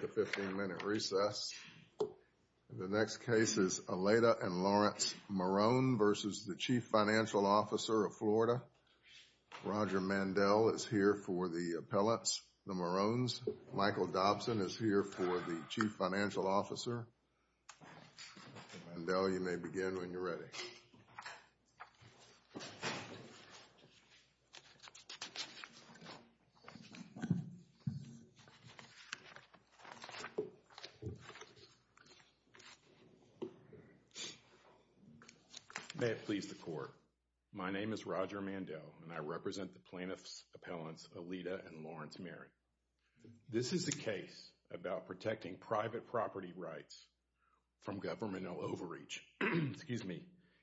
The 15-minute recess. The next case is Alieda and Lawrence Maron v. Chief Financial Officer of Florida. Roger Mandel is here for the appellants, the Marons. Michael Dobson is here for the Chief Financial Officer. Mandel, you may begin when you're ready. May it please the Court. My name is Roger Mandel, and I represent the plaintiffs' appellants Alieda and Lawrence Maron. This is a case about protecting private property rights from governmental overreach.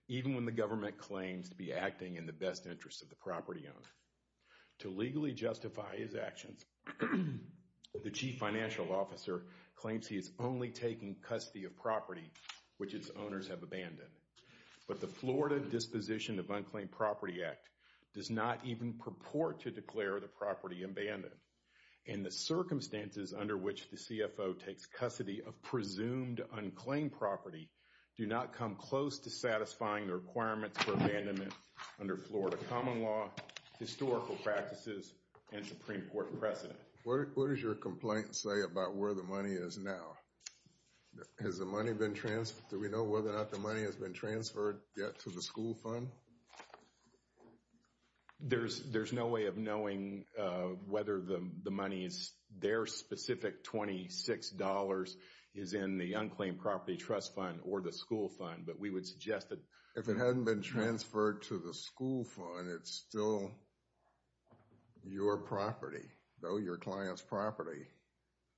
Even when the government claims to be acting in the best interest of the property owner. To legally justify his actions, the Chief Financial Officer claims he is only taking custody of property which its owners have abandoned. But the Florida Disposition of Unclaimed Property Act does not even purport to declare the property abandoned. And the circumstances under which the CFO takes custody of presumed unclaimed property do not come close to satisfying the requirements for abandonment under Florida common law, historical practices, and Supreme Court precedent. What does your complaint say about where the money is now? Has the money been transferred? Do we know whether or not the money has been transferred yet to the school fund? There's no way of knowing whether the money is, their specific $26 is in the unclaimed property trust fund or the school fund. If it hadn't been transferred to the school fund, it's still your property, though your client's property.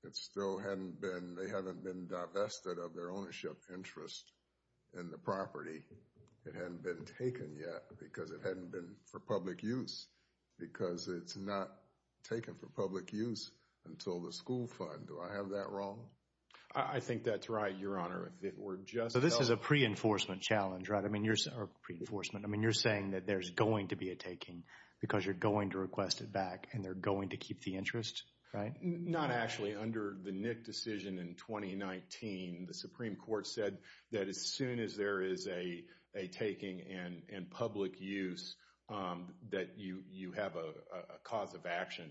It still hadn't been, they haven't been divested of their ownership interest in the property. It hadn't been taken yet because it hadn't been for public use. Because it's not taken for public use until the school fund. Do I have that wrong? I think that's right, Your Honor. So this is a pre-enforcement challenge, right? I mean, you're saying that there's going to be a taking because you're going to request it back and they're going to keep the interest, right? Not actually. Under the Nick decision in 2019, the Supreme Court said that as soon as there is a taking and public use, that you have a cause of action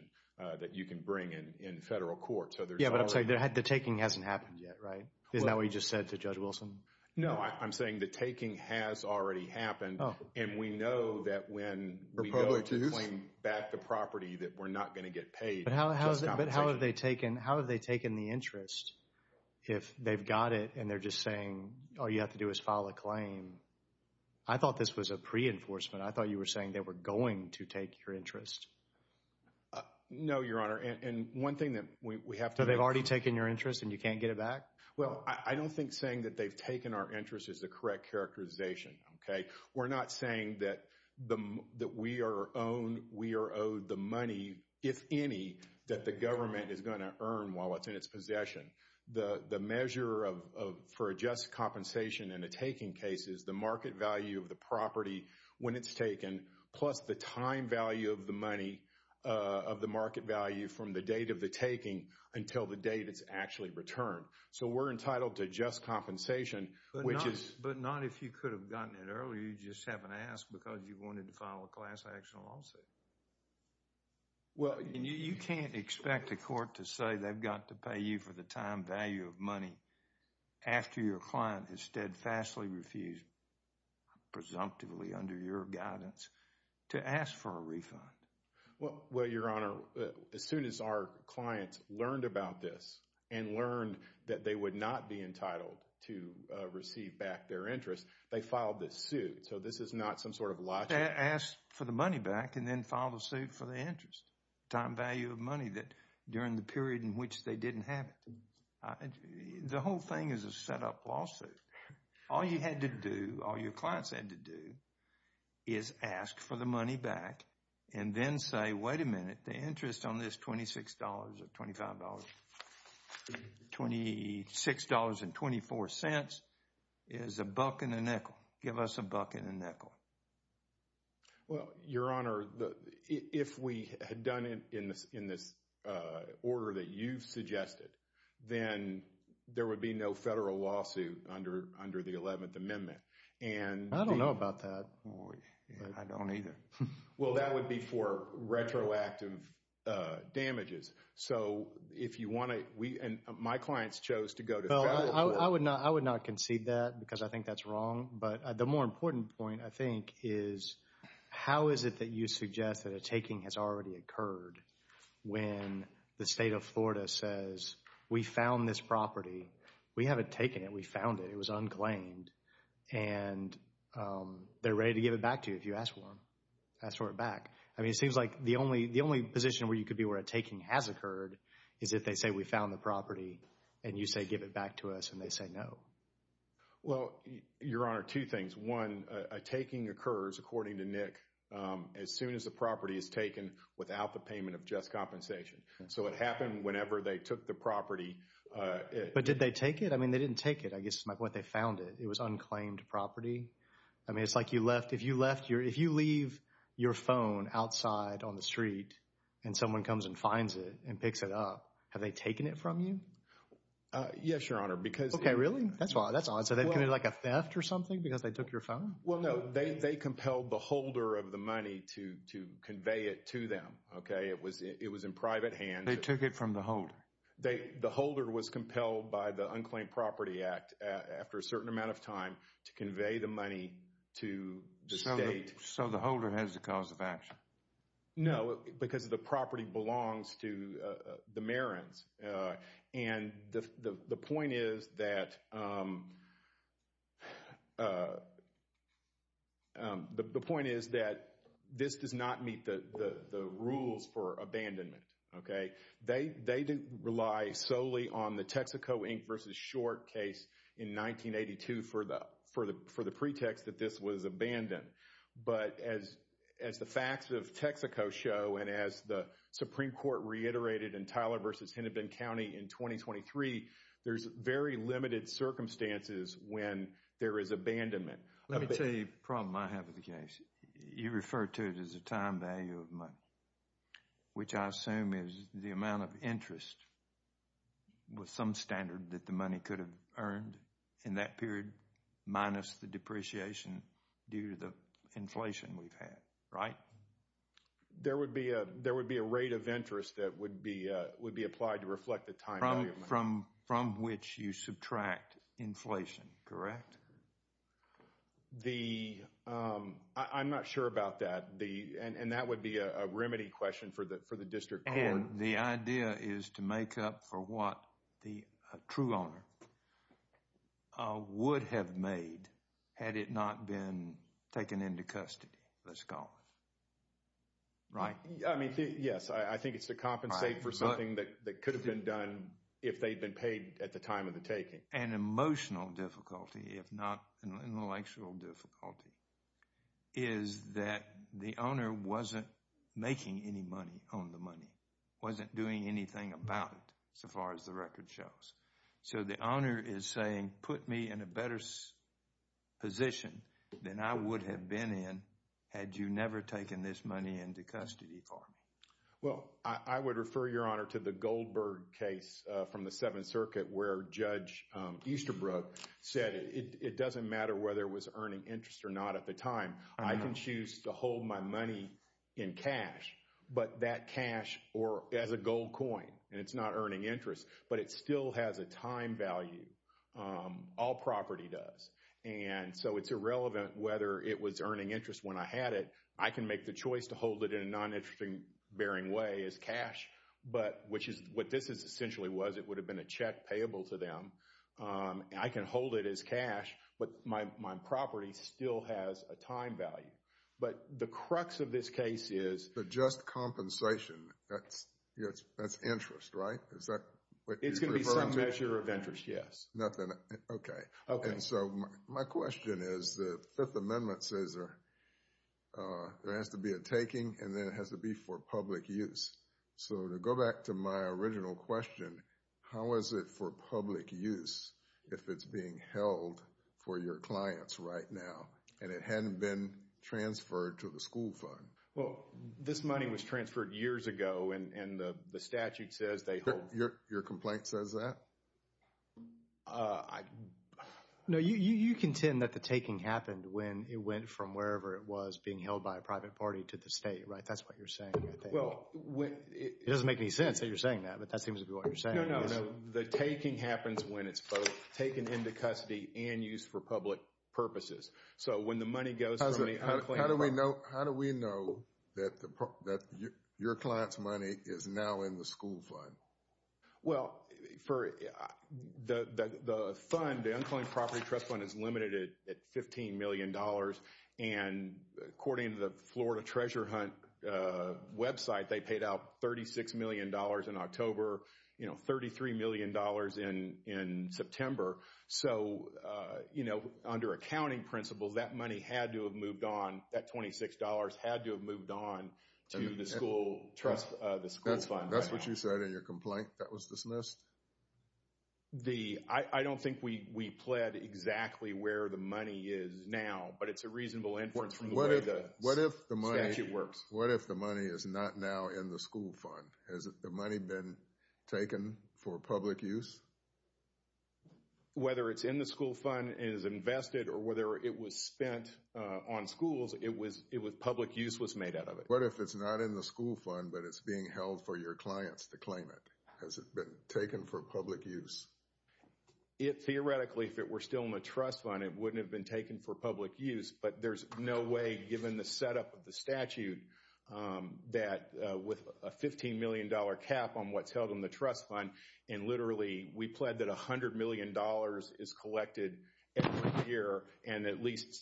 that you can bring in federal court. Yeah, but I'm saying the taking hasn't happened yet, right? Isn't that what you just said to Judge Wilson? No, I'm saying the taking has already happened and we know that when we go to claim back the property that we're not going to get paid. But how have they taken the interest if they've got it and they're just saying all you have to do is file a claim? I thought this was a pre-enforcement. I thought you were saying they were going to take your interest. No, Your Honor. And one thing that we have to... So they've already taken your interest and you can't get it back? Well, I don't think saying that they've taken our interest is the correct characterization, okay? We're not saying that we are owed the money, if any, that the government is going to earn while it's in its possession. The measure for a just compensation in a taking case is the market value of the property when it's taken plus the time value of the money, of the market value from the date of the taking until the date it's actually returned. So we're entitled to just compensation, which is... But not if you could have gotten it earlier. You just haven't asked because you wanted to file a class action lawsuit. Well... And you can't expect a court to say they've got to pay you for the time value of money after your client has steadfastly refused, presumptively under your guidance, to ask for a refund. Well, Your Honor, as soon as our clients learned about this and learned that they would not be entitled to receive back their interest, they filed this suit. So this is not some sort of lawsuit. They asked for the money back and then filed a suit for the interest, time value of money, during the period in which they didn't have it. The whole thing is a setup lawsuit. All you had to do, all your clients had to do, is ask for the money back and then say, wait a minute, the interest on this $26 or $25, $26.24 is a buck and a nickel. Give us a buck and a nickel. Well, Your Honor, if we had done it in this order that you've suggested, then there would be no federal lawsuit under the 11th Amendment. And... I don't know about that. I don't either. Well, that would be for retroactive damages. So if you want to, we and my clients chose to go to... I would not concede that because I think that's wrong. But the more important point, I think, is how is it that you suggest that a taking has already occurred when the state of Florida says, we found this property. We haven't taken it. We found it. It was unclaimed. And they're ready to give it back to you if you ask for it. Ask for it back. I mean, it seems like the only position where you could be where a taking has occurred is if they say, we found the property, and you say, give it back to us, and they say no. Well, Your Honor, two things. One, a taking occurs, according to Nick, as soon as the property is taken without the payment of just compensation. So it happened whenever they took the property. But did they take it? I mean, they didn't take it. I guess my point, they found it. It was unclaimed property. I mean, it's like you left... If you leave your phone outside on the street and someone comes and finds it and picks it up, have they taken it from you? Yes, Your Honor, because... Okay, really? That's odd. So they committed like a theft or something because they took your phone? Well, no. They compelled the holder of the money to convey it to them. Okay? It was in private hands. They took it from the holder. The holder was compelled by the Unclaimed Property Act after a certain amount of time to convey the money to the state. So the holder has the cause of action? No, because the property belongs to the Marins. And the point is that... The point is that this does not meet the rules for abandonment. Okay? They didn't rely solely on the Texaco Inc. v. Short case in 1982 for the pretext that this was abandoned. But as the facts of Texaco show and as the Supreme Court reiterated in Tyler v. Hennepin County in 2023, there's very limited circumstances when there is abandonment. Let me tell you a problem I have with the case. You referred to it as a time value of money, which I assume is the amount of interest with some standard that the money could have earned in that period minus the depreciation due to the inflation we've had, right? There would be a rate of interest that would be applied to reflect the time value of money. From which you subtract inflation, correct? The... I'm not sure about that. And that would be a remedy question for the district court. And the idea is to make up for what the true owner would have made had it not been taken into custody, let's call it. Right? I mean, yes, I think it's to compensate for something that could have been done if they'd been paid at the time of the taking. An emotional difficulty, if not an intellectual difficulty, is that the owner wasn't making any money on the money, wasn't doing anything about it so far as the record shows. So the owner is saying, put me in a better position than I would have been in had you never taken this money into custody for me. Well, I would refer, Your Honor, to the Goldberg case from the Seventh Circuit where Judge Easterbrook said it doesn't matter whether it was earning interest or not at the time. I can choose to hold my money in cash, but that cash as a gold coin, and it's not earning interest, but it still has a time value. All property does. And so it's irrelevant whether it was earning interest when I had it. I can make the choice to hold it in a non-interest bearing way as cash, which is what this essentially was. It would have been a check payable to them. I can hold it as cash, but my property still has a time value. But the crux of this case is— But just compensation, that's interest, right? Is that what you're referring to? It's going to be some measure of interest, yes. Okay. And so my question is the Fifth Amendment says there has to be a taking and then it has to be for public use. So to go back to my original question, how is it for public use if it's being held for your clients right now and it hadn't been transferred to the school fund? Well, this money was transferred years ago, and the statute says they hold— Your complaint says that? No, you contend that the taking happened when it went from wherever it was being held by a private party to the state, right? That's what you're saying, I think. It doesn't make any sense that you're saying that, but that seems to be what you're saying. No, no, no. The taking happens when it's both taken into custody and used for public purposes. So when the money goes from the unclaimed property— How do we know that your client's money is now in the school fund? Well, the fund, the unclaimed property trust fund, is limited at $15 million. And according to the Florida Treasure Hunt website, they paid out $36 million in October, $33 million in September. So under accounting principles, that money had to have moved on, that $26 had to have moved on to the school fund. That's what you said in your complaint that was dismissed? I don't think we pled exactly where the money is now, but it's a reasonable inference from the way the statute works. What if the money is not now in the school fund? Has the money been taken for public use? Whether it's in the school fund, it is invested, or whether it was spent on schools, public use was made out of it. What if it's not in the school fund, but it's being held for your clients to claim it? Has it been taken for public use? Theoretically, if it were still in the trust fund, it wouldn't have been taken for public use. But there's no way, given the setup of the statute, that with a $15 million cap on what's held in the trust fund, and literally, we pled that $100 million is collected every year,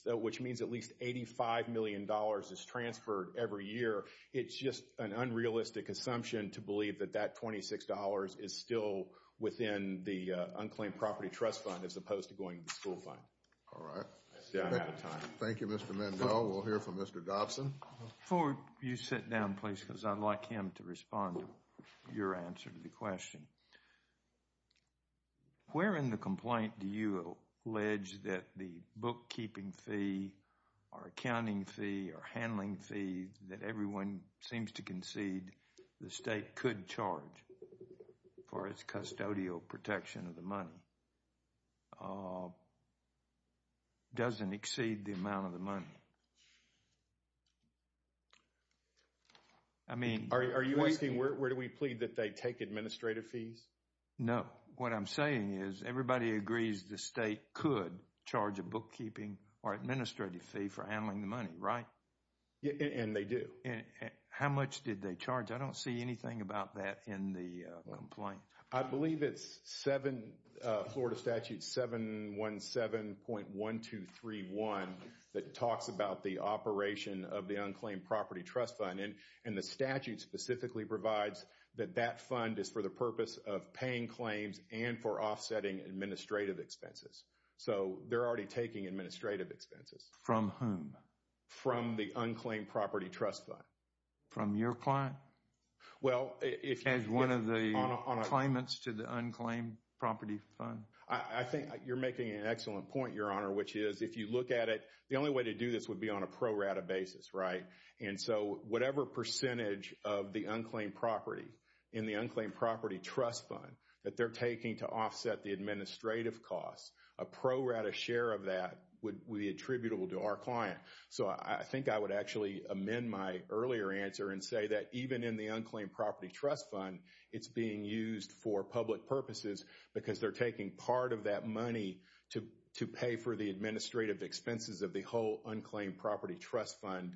which means at least $85 million is transferred every year. It's just an unrealistic assumption to believe that that $26 is still within the unclaimed property trust fund as opposed to going to the school fund. All right. I'm out of time. Thank you, Mr. Mendel. We'll hear from Mr. Dobson. Before you sit down, please, because I'd like him to respond to your answer to the question. Where in the complaint do you allege that the bookkeeping fee or accounting fee or handling fee that everyone seems to concede the state could charge for its custodial protection of the money doesn't exceed the amount of the money? Are you asking where do we plead that they take administrative fees? No. What I'm saying is everybody agrees the state could charge a bookkeeping or administrative fee for handling the money, right? And they do. How much did they charge? I don't see anything about that in the complaint. I believe it's Florida Statute 717.1231 that talks about the operation of the unclaimed property trust fund, and the statute specifically provides that that fund is for the purpose of paying claims and for offsetting administrative expenses. So they're already taking administrative expenses. From whom? From the unclaimed property trust fund. From your client? As one of the claimants to the unclaimed property fund? I think you're making an excellent point, Your Honor, which is if you look at it, the only way to do this would be on a pro rata basis, right? And so whatever percentage of the unclaimed property in the unclaimed property trust fund that they're taking to offset the administrative costs, a pro rata share of that would be attributable to our client. So I think I would actually amend my earlier answer and say that even in the unclaimed property trust fund, it's being used for public purposes because they're taking part of that money to pay for the administrative expenses of the whole unclaimed property trust fund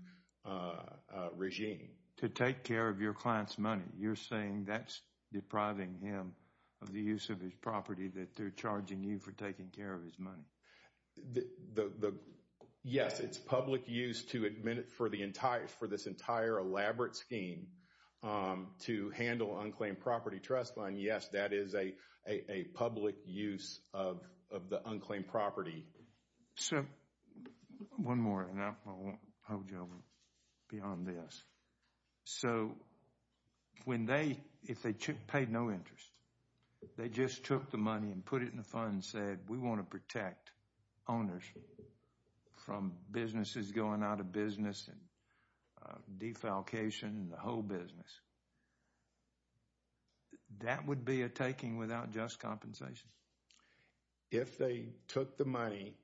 regime. To take care of your client's money. You're saying that's depriving him of the use of his property that they're charging you for taking care of his money. Yes, it's public use to admit it for this entire elaborate scheme to handle unclaimed property trust fund. Yes, that is a public use of the unclaimed property. Sir, one more and I won't hold you beyond this. So if they paid no interest, they just took the money and put it in the fund and said we want to protect owners from businesses going out of business and defalcation and the whole business. That would be a taking without just compensation. If they took the money,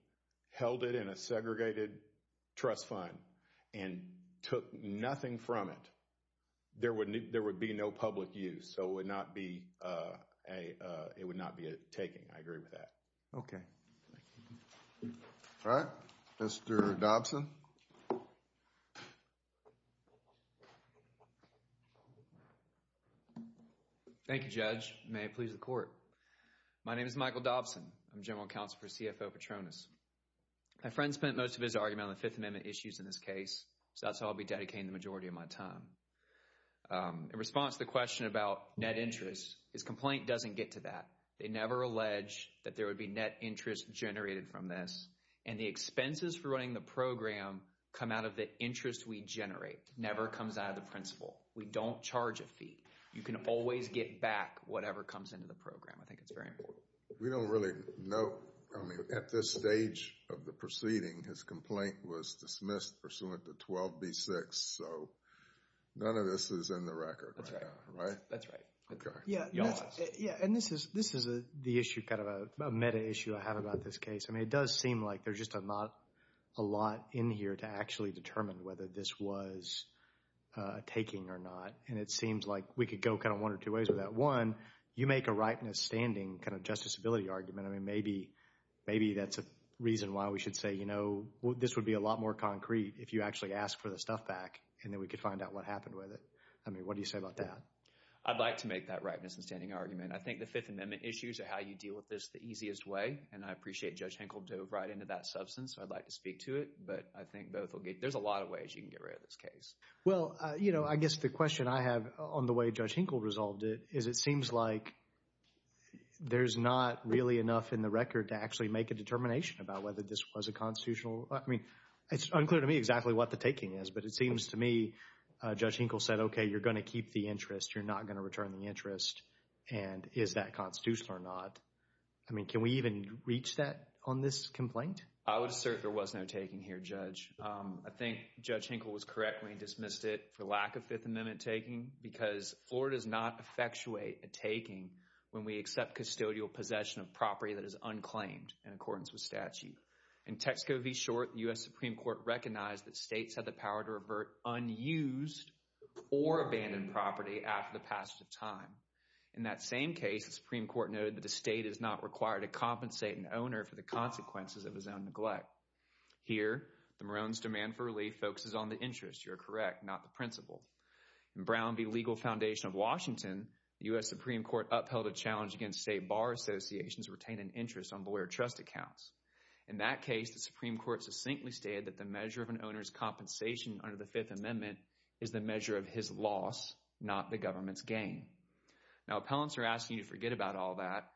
held it in a segregated trust fund and took nothing from it, there would be no public use. So it would not be a taking. I agree with that. Okay. All right. Mr. Dobson. Thank you, Judge. May it please the court. My name is Michael Dobson. I'm General Counsel for CFO Petronas. My friend spent most of his argument on the Fifth Amendment issues in this case, so that's how I'll be dedicating the majority of my time. In response to the question about net interest, his complaint doesn't get to that. They never allege that there would be net interest generated from this, and the expenses for running the program come out of the interest we generate. It never comes out of the principal. We don't charge a fee. You can always get back whatever comes into the program. I think it's very important. We don't really know. At this stage of the proceeding, his complaint was dismissed pursuant to 12B6, so none of this is in the record right now, right? That's right. Okay. Yeah, and this is the issue, kind of a meta issue I have about this case. I mean, it does seem like there's just not a lot in here to actually determine whether this was taking or not, and it seems like we could go kind of one or two ways with that. One, you make a right in a standing kind of justiciability argument. I mean, maybe that's a reason why we should say, you know, this would be a lot more concrete if you actually asked for the stuff back and then we could find out what happened with it. I mean, what do you say about that? I'd like to make that right in a standing argument. I think the Fifth Amendment issues are how you deal with this the easiest way, and I appreciate Judge Henkel dove right into that substance. I'd like to speak to it, but I think both will get— there's a lot of ways you can get rid of this case. Well, you know, I guess the question I have on the way Judge Henkel resolved it is it seems like there's not really enough in the record to actually make a determination about whether this was a constitutional— I mean, it's unclear to me exactly what the taking is, but it seems to me Judge Henkel said, okay, you're going to keep the interest. You're not going to return the interest, and is that constitutional or not? I mean, can we even reach that on this complaint? I would assert there was no taking here, Judge. I think Judge Henkel was correct when he dismissed it for lack of Fifth Amendment taking because Florida does not effectuate a taking when we accept custodial possession of property that is unclaimed in accordance with statute. In Texco v. Short, the U.S. Supreme Court recognized that states had the power to revert unused or abandoned property after the passage of time. In that same case, the Supreme Court noted that the state is not required to compensate an owner for the consequences of his own neglect. Here, the Maroons' demand for relief focuses on the interest, you're correct, not the principle. In Brown v. Legal Foundation of Washington, the U.S. Supreme Court upheld a challenge against state bar associations retaining interest on lawyer trust accounts. In that case, the Supreme Court succinctly stated that the measure of an owner's compensation under the Fifth Amendment is the measure of his loss, not the government's gain. Now, appellants are asking you to forget about all that.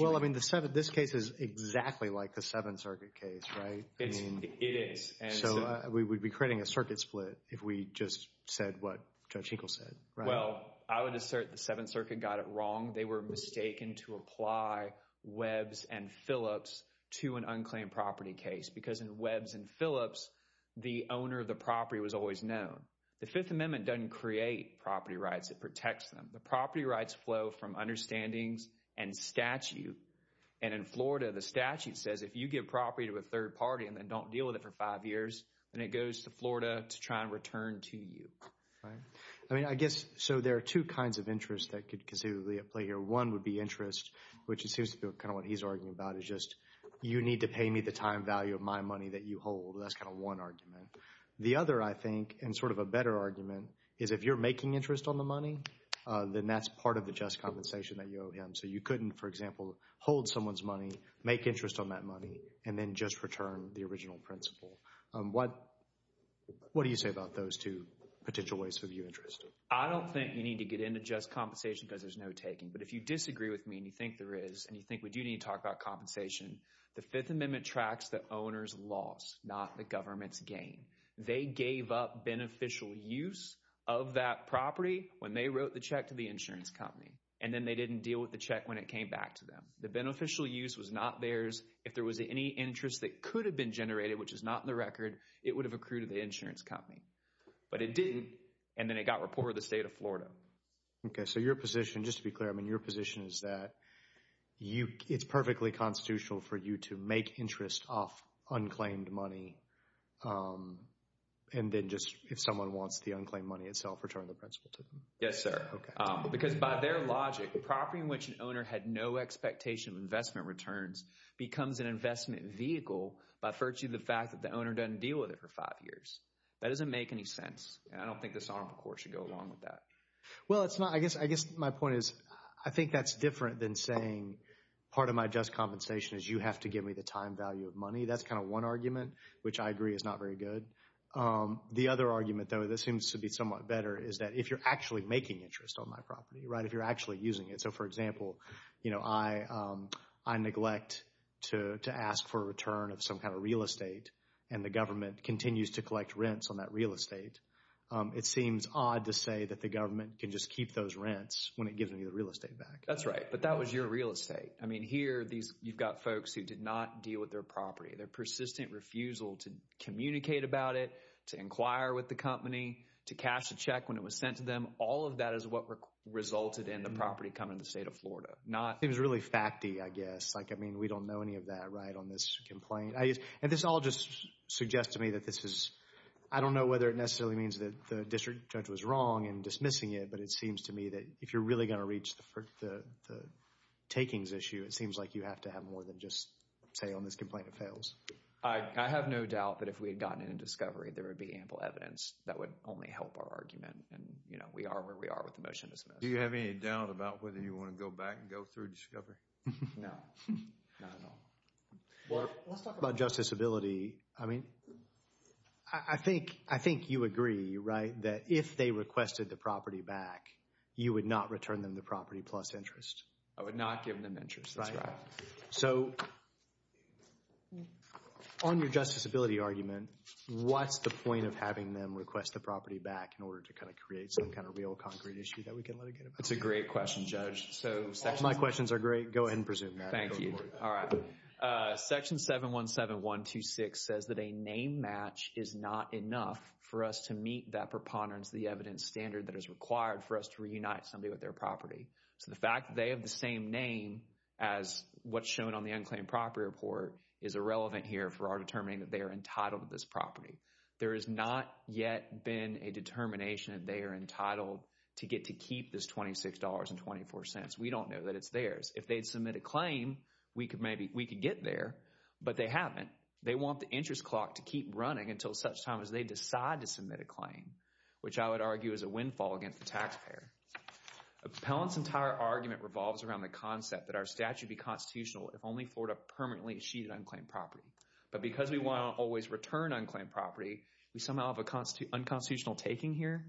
Well, I mean, this case is exactly like the Seventh Circuit case, right? It is. So we would be creating a circuit split if we just said what Judge Hinkle said, right? Well, I would assert the Seventh Circuit got it wrong. They were mistaken to apply Webbs and Phillips to an unclaimed property case because in Webbs and Phillips, the owner of the property was always known. The Fifth Amendment doesn't create property rights, it protects them. The property rights flow from understandings and statute. And in Florida, the statute says if you give property to a third party and then don't deal with it for five years, then it goes to Florida to try and return to you. I mean, I guess so there are two kinds of interests that could considerably play here. One would be interest, which seems to be kind of what he's arguing about, is just you need to pay me the time value of my money that you hold. That's kind of one argument. The other, I think, and sort of a better argument, is if you're making interest on the money, then that's part of the just compensation that you owe him. So you couldn't, for example, hold someone's money, make interest on that money, and then just return the original principal. What do you say about those two potential ways to view interest? I don't think you need to get into just compensation because there's no taking. But if you disagree with me and you think there is and you think we do need to talk about compensation, the Fifth Amendment tracks the owner's loss, not the government's gain. They gave up beneficial use of that property when they wrote the check to the insurance company, and then they didn't deal with the check when it came back to them. The beneficial use was not theirs. If there was any interest that could have been generated, which is not in the record, it would have accrued to the insurance company. But it didn't, and then it got reported to the state of Florida. Okay, so your position, just to be clear, I mean your position is that it's perfectly constitutional for you to make interest off unclaimed money and then just, if someone wants the unclaimed money itself, return the principal to them. Yes, sir. Because by their logic, a property in which an owner had no expectation of investment returns becomes an investment vehicle by virtue of the fact that the owner doesn't deal with it for five years. That doesn't make any sense. And I don't think this honorable court should go along with that. Well, it's not. I guess my point is I think that's different than saying part of my just compensation is you have to give me the time value of money. That's kind of one argument, which I agree is not very good. The other argument, though, that seems to be somewhat better is that if you're actually making interest on my property, right, if you're actually using it. So, for example, I neglect to ask for a return of some kind of real estate, and the government continues to collect rents on that real estate. It seems odd to say that the government can just keep those rents when it gives me the real estate back. That's right, but that was your real estate. I mean, here you've got folks who did not deal with their property, their persistent refusal to communicate about it, to inquire with the company, to cash a check when it was sent to them. All of that is what resulted in the property coming to the state of Florida. It was really facty, I guess. I mean, we don't know any of that right on this complaint. And this all just suggests to me that this is, I don't know whether it necessarily means that the district judge was wrong in dismissing it, but it seems to me that if you're really going to reach the takings issue, it seems like you have to have more than just say on this complaint it fails. I have no doubt that if we had gotten it in discovery, there would be ample evidence that would only help our argument. And, you know, we are where we are with the motion to dismiss. Do you have any doubt about whether you want to go back and go through discovery? No, not at all. Let's talk about justiciability. I mean, I think you agree, right, that if they requested the property back, you would not return them the property plus interest. I would not give them interest. So on your justiciability argument, what's the point of having them request the property back in order to kind of create some kind of real concrete issue that we can let it get about? That's a great question, Judge. All my questions are great. Go ahead and presume that. Thank you. All right. Section 717126 says that a name match is not enough for us to meet that preponderance, the evidence standard that is required for us to reunite somebody with their property. So the fact that they have the same name as what's shown on the unclaimed property report is irrelevant here for our determining that they are entitled to this property. There has not yet been a determination that they are entitled to get to keep this $26.24. We don't know that it's theirs. If they'd submit a claim, we could get there. But they haven't. They want the interest clock to keep running until such time as they decide to submit a claim, which I would argue is a windfall against the taxpayer. Appellant's entire argument revolves around the concept that our statute be constitutional if only for a permanently sheeted unclaimed property. But because we want to always return unclaimed property, we somehow have an unconstitutional taking here.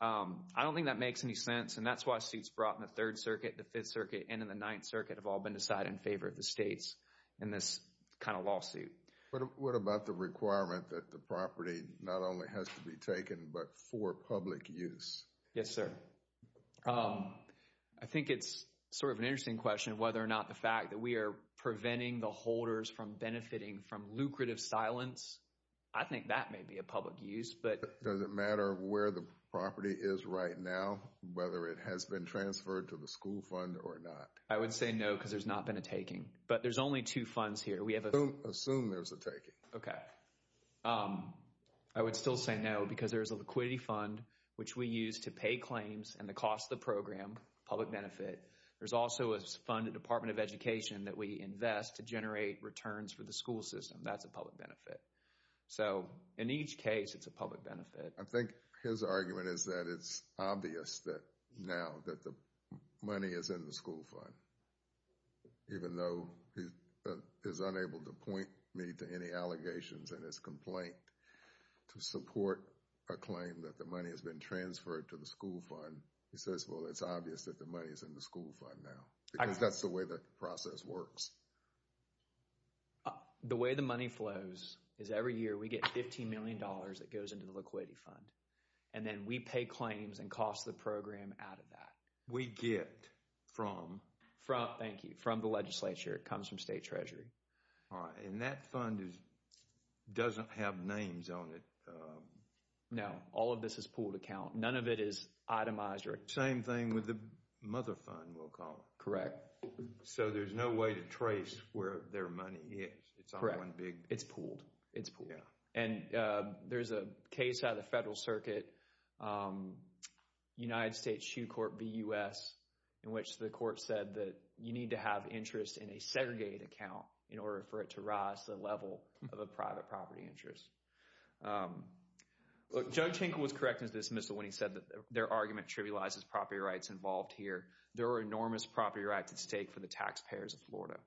I don't think that makes any sense, and that's why suits brought in the Third Circuit, the Fifth Circuit, and in the Ninth Circuit have all been decided in favor of the states in this kind of lawsuit. But what about the requirement that the property not only has to be taken but for public use? Yes, sir. I think it's sort of an interesting question whether or not the fact that we are preventing the holders from benefiting from lucrative silence. I think that may be a public use. Does it matter where the property is right now, whether it has been transferred to the school fund or not? I would say no because there's not been a taking. But there's only two funds here. Assume there's a taking. Okay. I would still say no because there's a liquidity fund, which we use to pay claims and the cost of the program, public benefit. There's also a funded Department of Education that we invest to generate returns for the school system. That's a public benefit. So in each case, it's a public benefit. I think his argument is that it's obvious that now that the money is in the school fund, even though he is unable to point me to any allegations in his complaint to support a claim that the money has been transferred to the school fund. He says, well, it's obvious that the money is in the school fund now because that's the way the process works. The way the money flows is every year we get $15 million that goes into the liquidity fund. And then we pay claims and cost the program out of that. We get from? Thank you. From the legislature. It comes from state treasury. All right. And that fund doesn't have names on it. No. All of this is pooled account. None of it is itemized. Same thing with the mother fund, we'll call it. Correct. So there's no way to trace where their money is. It's pooled. It's pooled. And there's a case out of the Federal Circuit, United States Shoe Court v. U.S., in which the court said that you need to have interest in a segregated account in order for it to rise to the level of a private property interest. Look, Joe Tinkle was correct in his dismissal when he said that their argument trivializes property rights involved here. There are enormous property rights at stake for the taxpayers of Florida.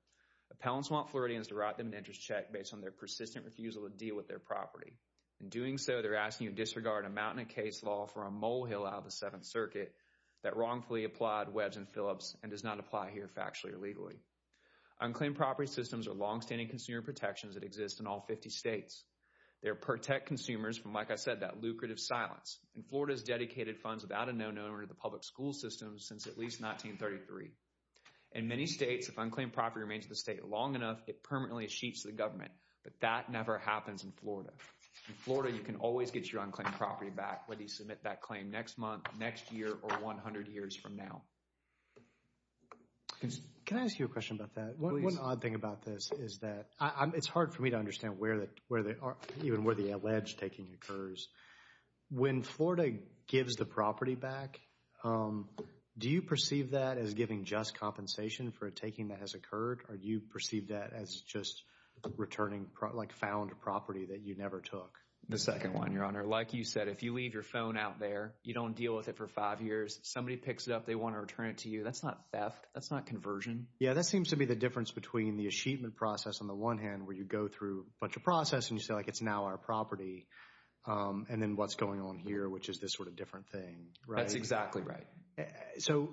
Appellants want Floridians to write them an interest check based on their persistent refusal to deal with their property. In doing so, they're asking you to disregard a mountain of case law from a molehill out of the Seventh Circuit that wrongfully applied Webbs and Phillips and does not apply here factually or legally. Unclaimed property systems are longstanding consumer protections that exist in all 50 states. They protect consumers from, like I said, that lucrative silence. And Florida has dedicated funds without a no-no to the public school system since at least 1933. In many states, if unclaimed property remains in the state long enough, it permanently sheets the government. But that never happens in Florida. In Florida, you can always get your unclaimed property back whether you submit that claim next month, next year, or 100 years from now. Can I ask you a question about that? One odd thing about this is that it's hard for me to understand where the alleged taking occurs. When Florida gives the property back, do you perceive that as giving just compensation for a taking that has occurred, or do you perceive that as just returning found property that you never took? The second one, Your Honor. Like you said, if you leave your phone out there, you don't deal with it for five years, somebody picks it up, they want to return it to you. That's not theft. That's not conversion. Yeah, that seems to be the difference between the achievement process, on the one hand, where you go through a bunch of processes and you say, like, it's now our property, and then what's going on here, which is this sort of different thing. That's exactly right. So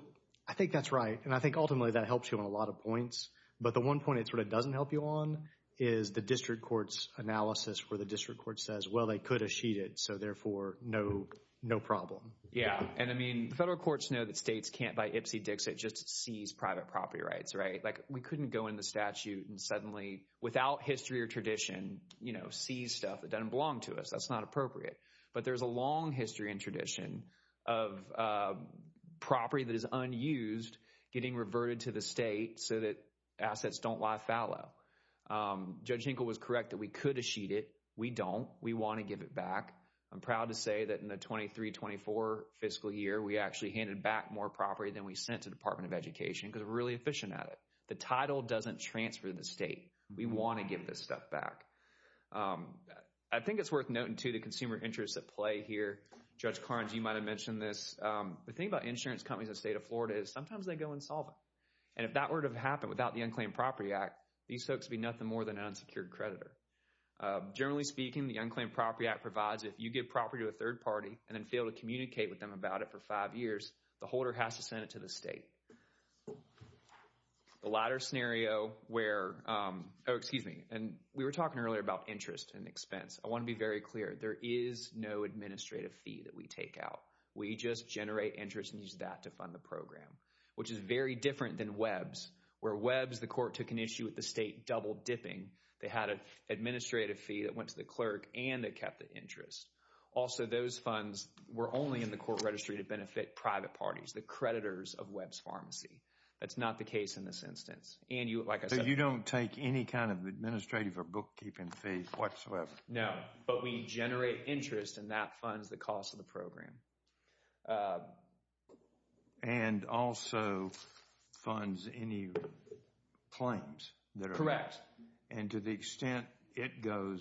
I think that's right. And I think ultimately that helps you on a lot of points. But the one point it sort of doesn't help you on is the district court's analysis where the district court says, well, they could have sheet it, so therefore no problem. Yeah, and I mean, the federal courts know that states can't buy Ipsy Dixit just to seize private property rights, right? Like we couldn't go in the statute and suddenly, without history or tradition, seize stuff that doesn't belong to us. That's not appropriate. But there's a long history and tradition of property that is unused getting reverted to the state so that assets don't lie fallow. Judge Hinkle was correct that we could have sheet it. We don't. We want to give it back. I'm proud to say that in the 23-24 fiscal year, we actually handed back more property than we sent to the Department of Education because we're really efficient at it. The title doesn't transfer to the state. We want to give this stuff back. I think it's worth noting, too, the consumer interests at play here. Judge Carnes, you might have mentioned this. The thing about insurance companies in the state of Florida is sometimes they go insolvent. And if that were to have happened without the Unclaimed Property Act, these folks would be nothing more than an unsecured creditor. Generally speaking, the Unclaimed Property Act provides if you give property to a third party and then fail to communicate with them about it for five years, the holder has to send it to the state. The latter scenario where—oh, excuse me. We were talking earlier about interest and expense. I want to be very clear. There is no administrative fee that we take out. We just generate interest and use that to fund the program, which is very different than WEBS, where WEBS, the court took an issue with the state double-dipping. They had an administrative fee that went to the clerk, and they kept the interest. Also, those funds were only in the court registry to benefit private parties, the creditors of WEBS Pharmacy. That's not the case in this instance. And like I said— So you don't take any kind of administrative or bookkeeping fee whatsoever? No, but we generate interest, and that funds the cost of the program. And also funds any claims that are— Correct. And to the extent it goes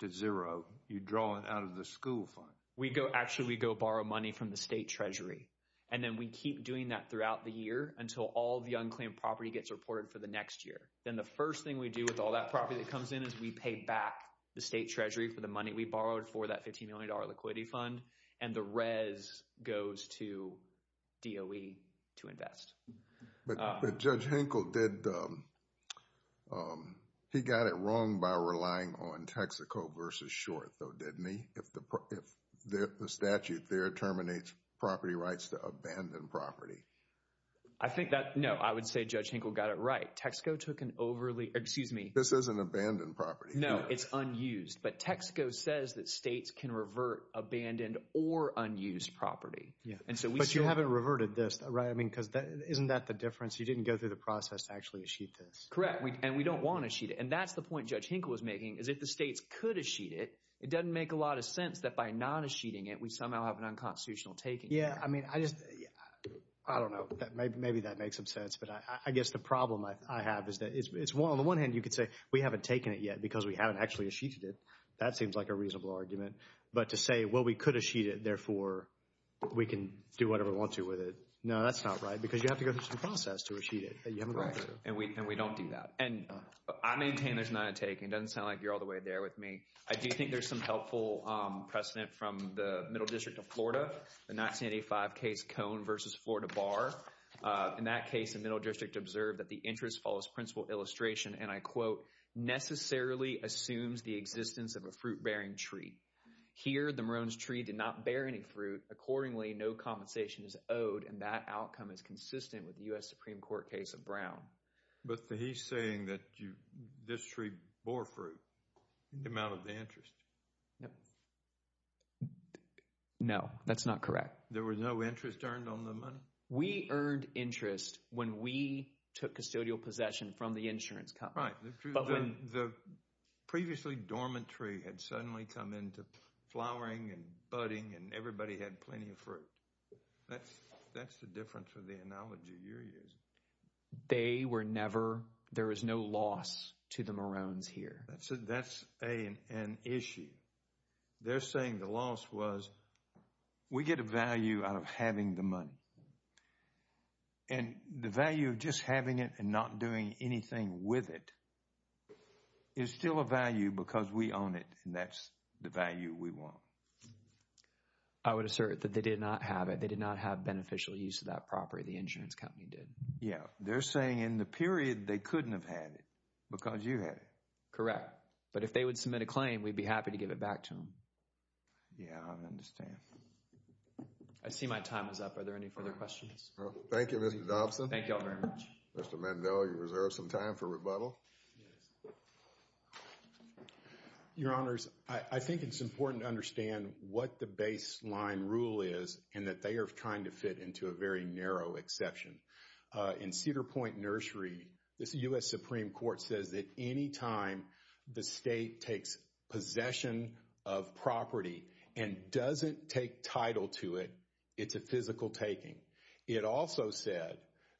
to zero, you draw it out of the school fund? Actually, we go borrow money from the state treasury, and then we keep doing that throughout the year until all the unclaimed property gets reported for the next year. Then the first thing we do with all that property that comes in is we pay back the state treasury for the money we borrowed for that $15 million liquidity fund, and the res goes to DOE to invest. But Judge Henkel did— he got it wrong by relying on Texaco versus Short, though, didn't he? If the statute there terminates property rights to abandoned property. I think that—no, I would say Judge Henkel got it right. Texaco took an overly—excuse me. This is an abandoned property. No, it's unused. But Texaco says that states can revert abandoned or unused property. But you haven't reverted this, right? I mean, isn't that the difference? You didn't go through the process to actually achieve this. Correct, and we don't want to achieve it. And that's the point Judge Henkel was making, is if the states could achieve it, it doesn't make a lot of sense that by not achieving it, we somehow have an unconstitutional taking. Yeah, I mean, I just—I don't know. Maybe that makes some sense. But I guess the problem I have is that it's— on the one hand, you could say we haven't taken it yet because we haven't actually achieved it. That seems like a reasonable argument. But to say, well, we could achieve it, therefore we can do whatever we want to with it. No, that's not right because you have to go through some process to achieve it. Right, and we don't do that. And I maintain there's not a taking. It doesn't sound like you're all the way there with me. I do think there's some helpful precedent from the Middle District of Florida, the 1985 case Cone v. Florida Bar. In that case, the Middle District observed that the interest follows principal illustration, and I quote, necessarily assumes the existence of a fruit-bearing tree. Here, the Maroons tree did not bear any fruit. Accordingly, no compensation is owed, and that outcome is consistent with the U.S. Supreme Court case of Brown. But he's saying that this tree bore fruit. It came out of the interest. No, that's not correct. There was no interest earned on the money? We earned interest when we took custodial possession from the insurance company. But when the previously dormant tree had suddenly come into flowering and budding and everybody had plenty of fruit. That's the difference with the analogy you're using. They were never, there was no loss to the Maroons here. That's an issue. They're saying the loss was we get a value out of having the money. And the value of just having it and not doing anything with it is still a value because we own it, and that's the value we want. I would assert that they did not have it. They did not have beneficial use of that property. The insurance company did. Yeah, they're saying in the period they couldn't have had it because you had it. Correct. But if they would submit a claim, we'd be happy to give it back to them. Yeah, I understand. I see my time is up. Are there any further questions? Thank you, Mr. Dobson. Thank you all very much. Mr. Mandel, you reserve some time for rebuttal? Yes. Your Honors, I think it's important to understand what the baseline rule is and that they are trying to fit into a very narrow exception. In Cedar Point Nursery, the U.S. Supreme Court says that any time the state takes possession of property and doesn't take title to it, it's a physical taking. It also said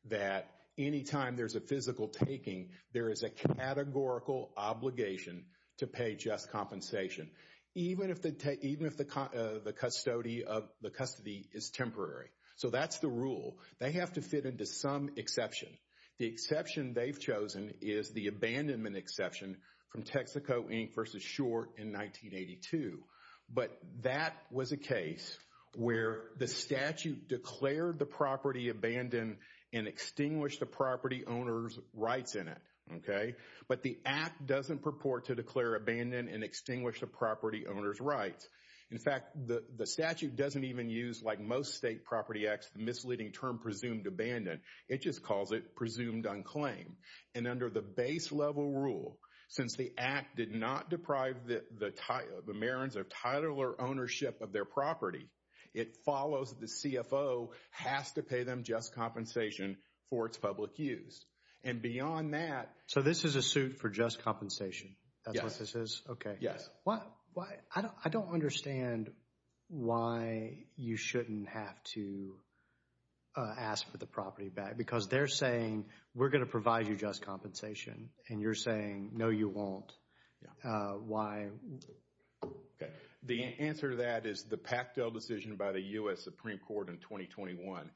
that any time there's a physical taking, there is a categorical obligation to pay just compensation. Even if the custody is temporary. So that's the rule. They have to fit into some exception. The exception they've chosen is the abandonment exception from Texaco, Inc. v. Short in 1982. But that was a case where the statute declared the property abandoned and extinguished the property owner's rights in it. Okay? But the act doesn't purport to declare abandoned and extinguished the property owner's rights. In fact, the statute doesn't even use, like most state property acts, the misleading term presumed abandoned. It just calls it presumed unclaimed. And under the base level rule, since the act did not deprive the marrons of title or ownership of their property, it follows the CFO has to pay them just compensation for its public use. And beyond that. So this is a suit for just compensation? Yes. That's what this is? Okay. Yes. I don't understand why you shouldn't have to ask for the property back. Because they're saying, we're going to provide you just compensation. And you're saying, no, you won't. Why? Okay. The answer to that is the Pactel decision by the U.S. Supreme Court in 2021.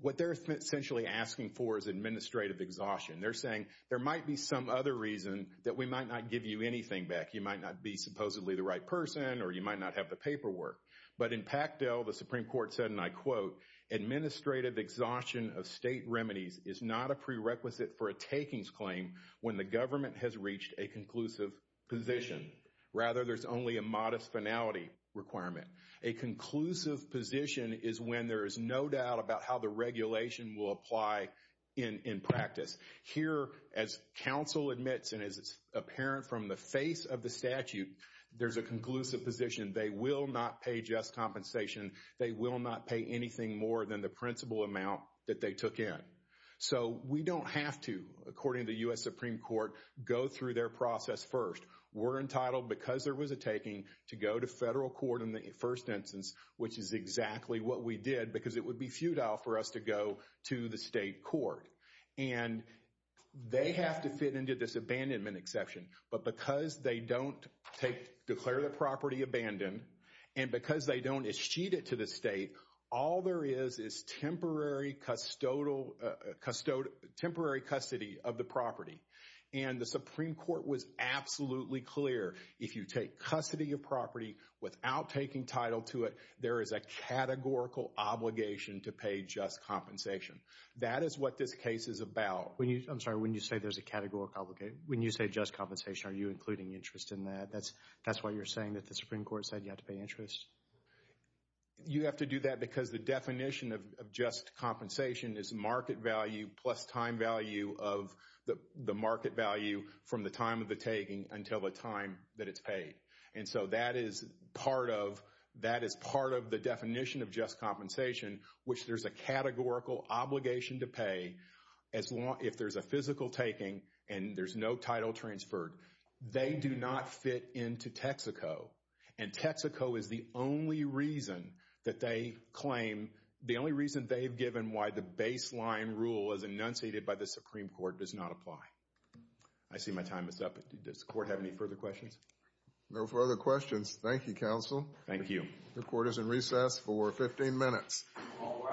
What they're essentially asking for is administrative exhaustion. They're saying there might be some other reason that we might not give you anything back. You might not be supposedly the right person or you might not have the But in Pactel, the Supreme Court said, and I quote, administrative exhaustion of state remedies is not a prerequisite for a takings claim when the government has reached a conclusive position. Rather, there's only a modest finality requirement. A conclusive position is when there is no doubt about how the regulation will apply in practice. Here, as counsel admits, and as it's apparent from the face of the statute, there's a conclusive position. They will not pay just compensation. They will not pay anything more than the principal amount that they took in. So we don't have to, according to the U.S. Supreme Court, go through their process first. We're entitled, because there was a taking, to go to federal court in the first instance, which is exactly what we did because it would be futile for us to go to the state court. And they have to fit into this abandonment exception. But because they don't take, declare the property abandoned, and because they don't eschete it to the state, all there is is temporary custodial, temporary custody of the property. And the Supreme Court was absolutely clear, if you take custody of property without taking title to it, there is a categorical obligation to pay just compensation. That is what this case is about. I'm sorry, when you say there's a categorical obligation, when you say just compensation, are you including interest in that? That's why you're saying that the Supreme Court said you have to pay interest? You have to do that because the definition of just compensation is market value plus time value of the market value from the time of the taking until the time that it's paid. And so that is part of the definition of just compensation, which there's a categorical obligation to pay if there's a physical taking and there's no title transferred. They do not fit into Texaco. And Texaco is the only reason that they claim, the only reason they've given why the baseline rule as enunciated by the Supreme Court does not apply. I see my time is up. Does the court have any further questions? No further questions. Thank you, counsel. Thank you. The court is in recess for 15 minutes. All rise.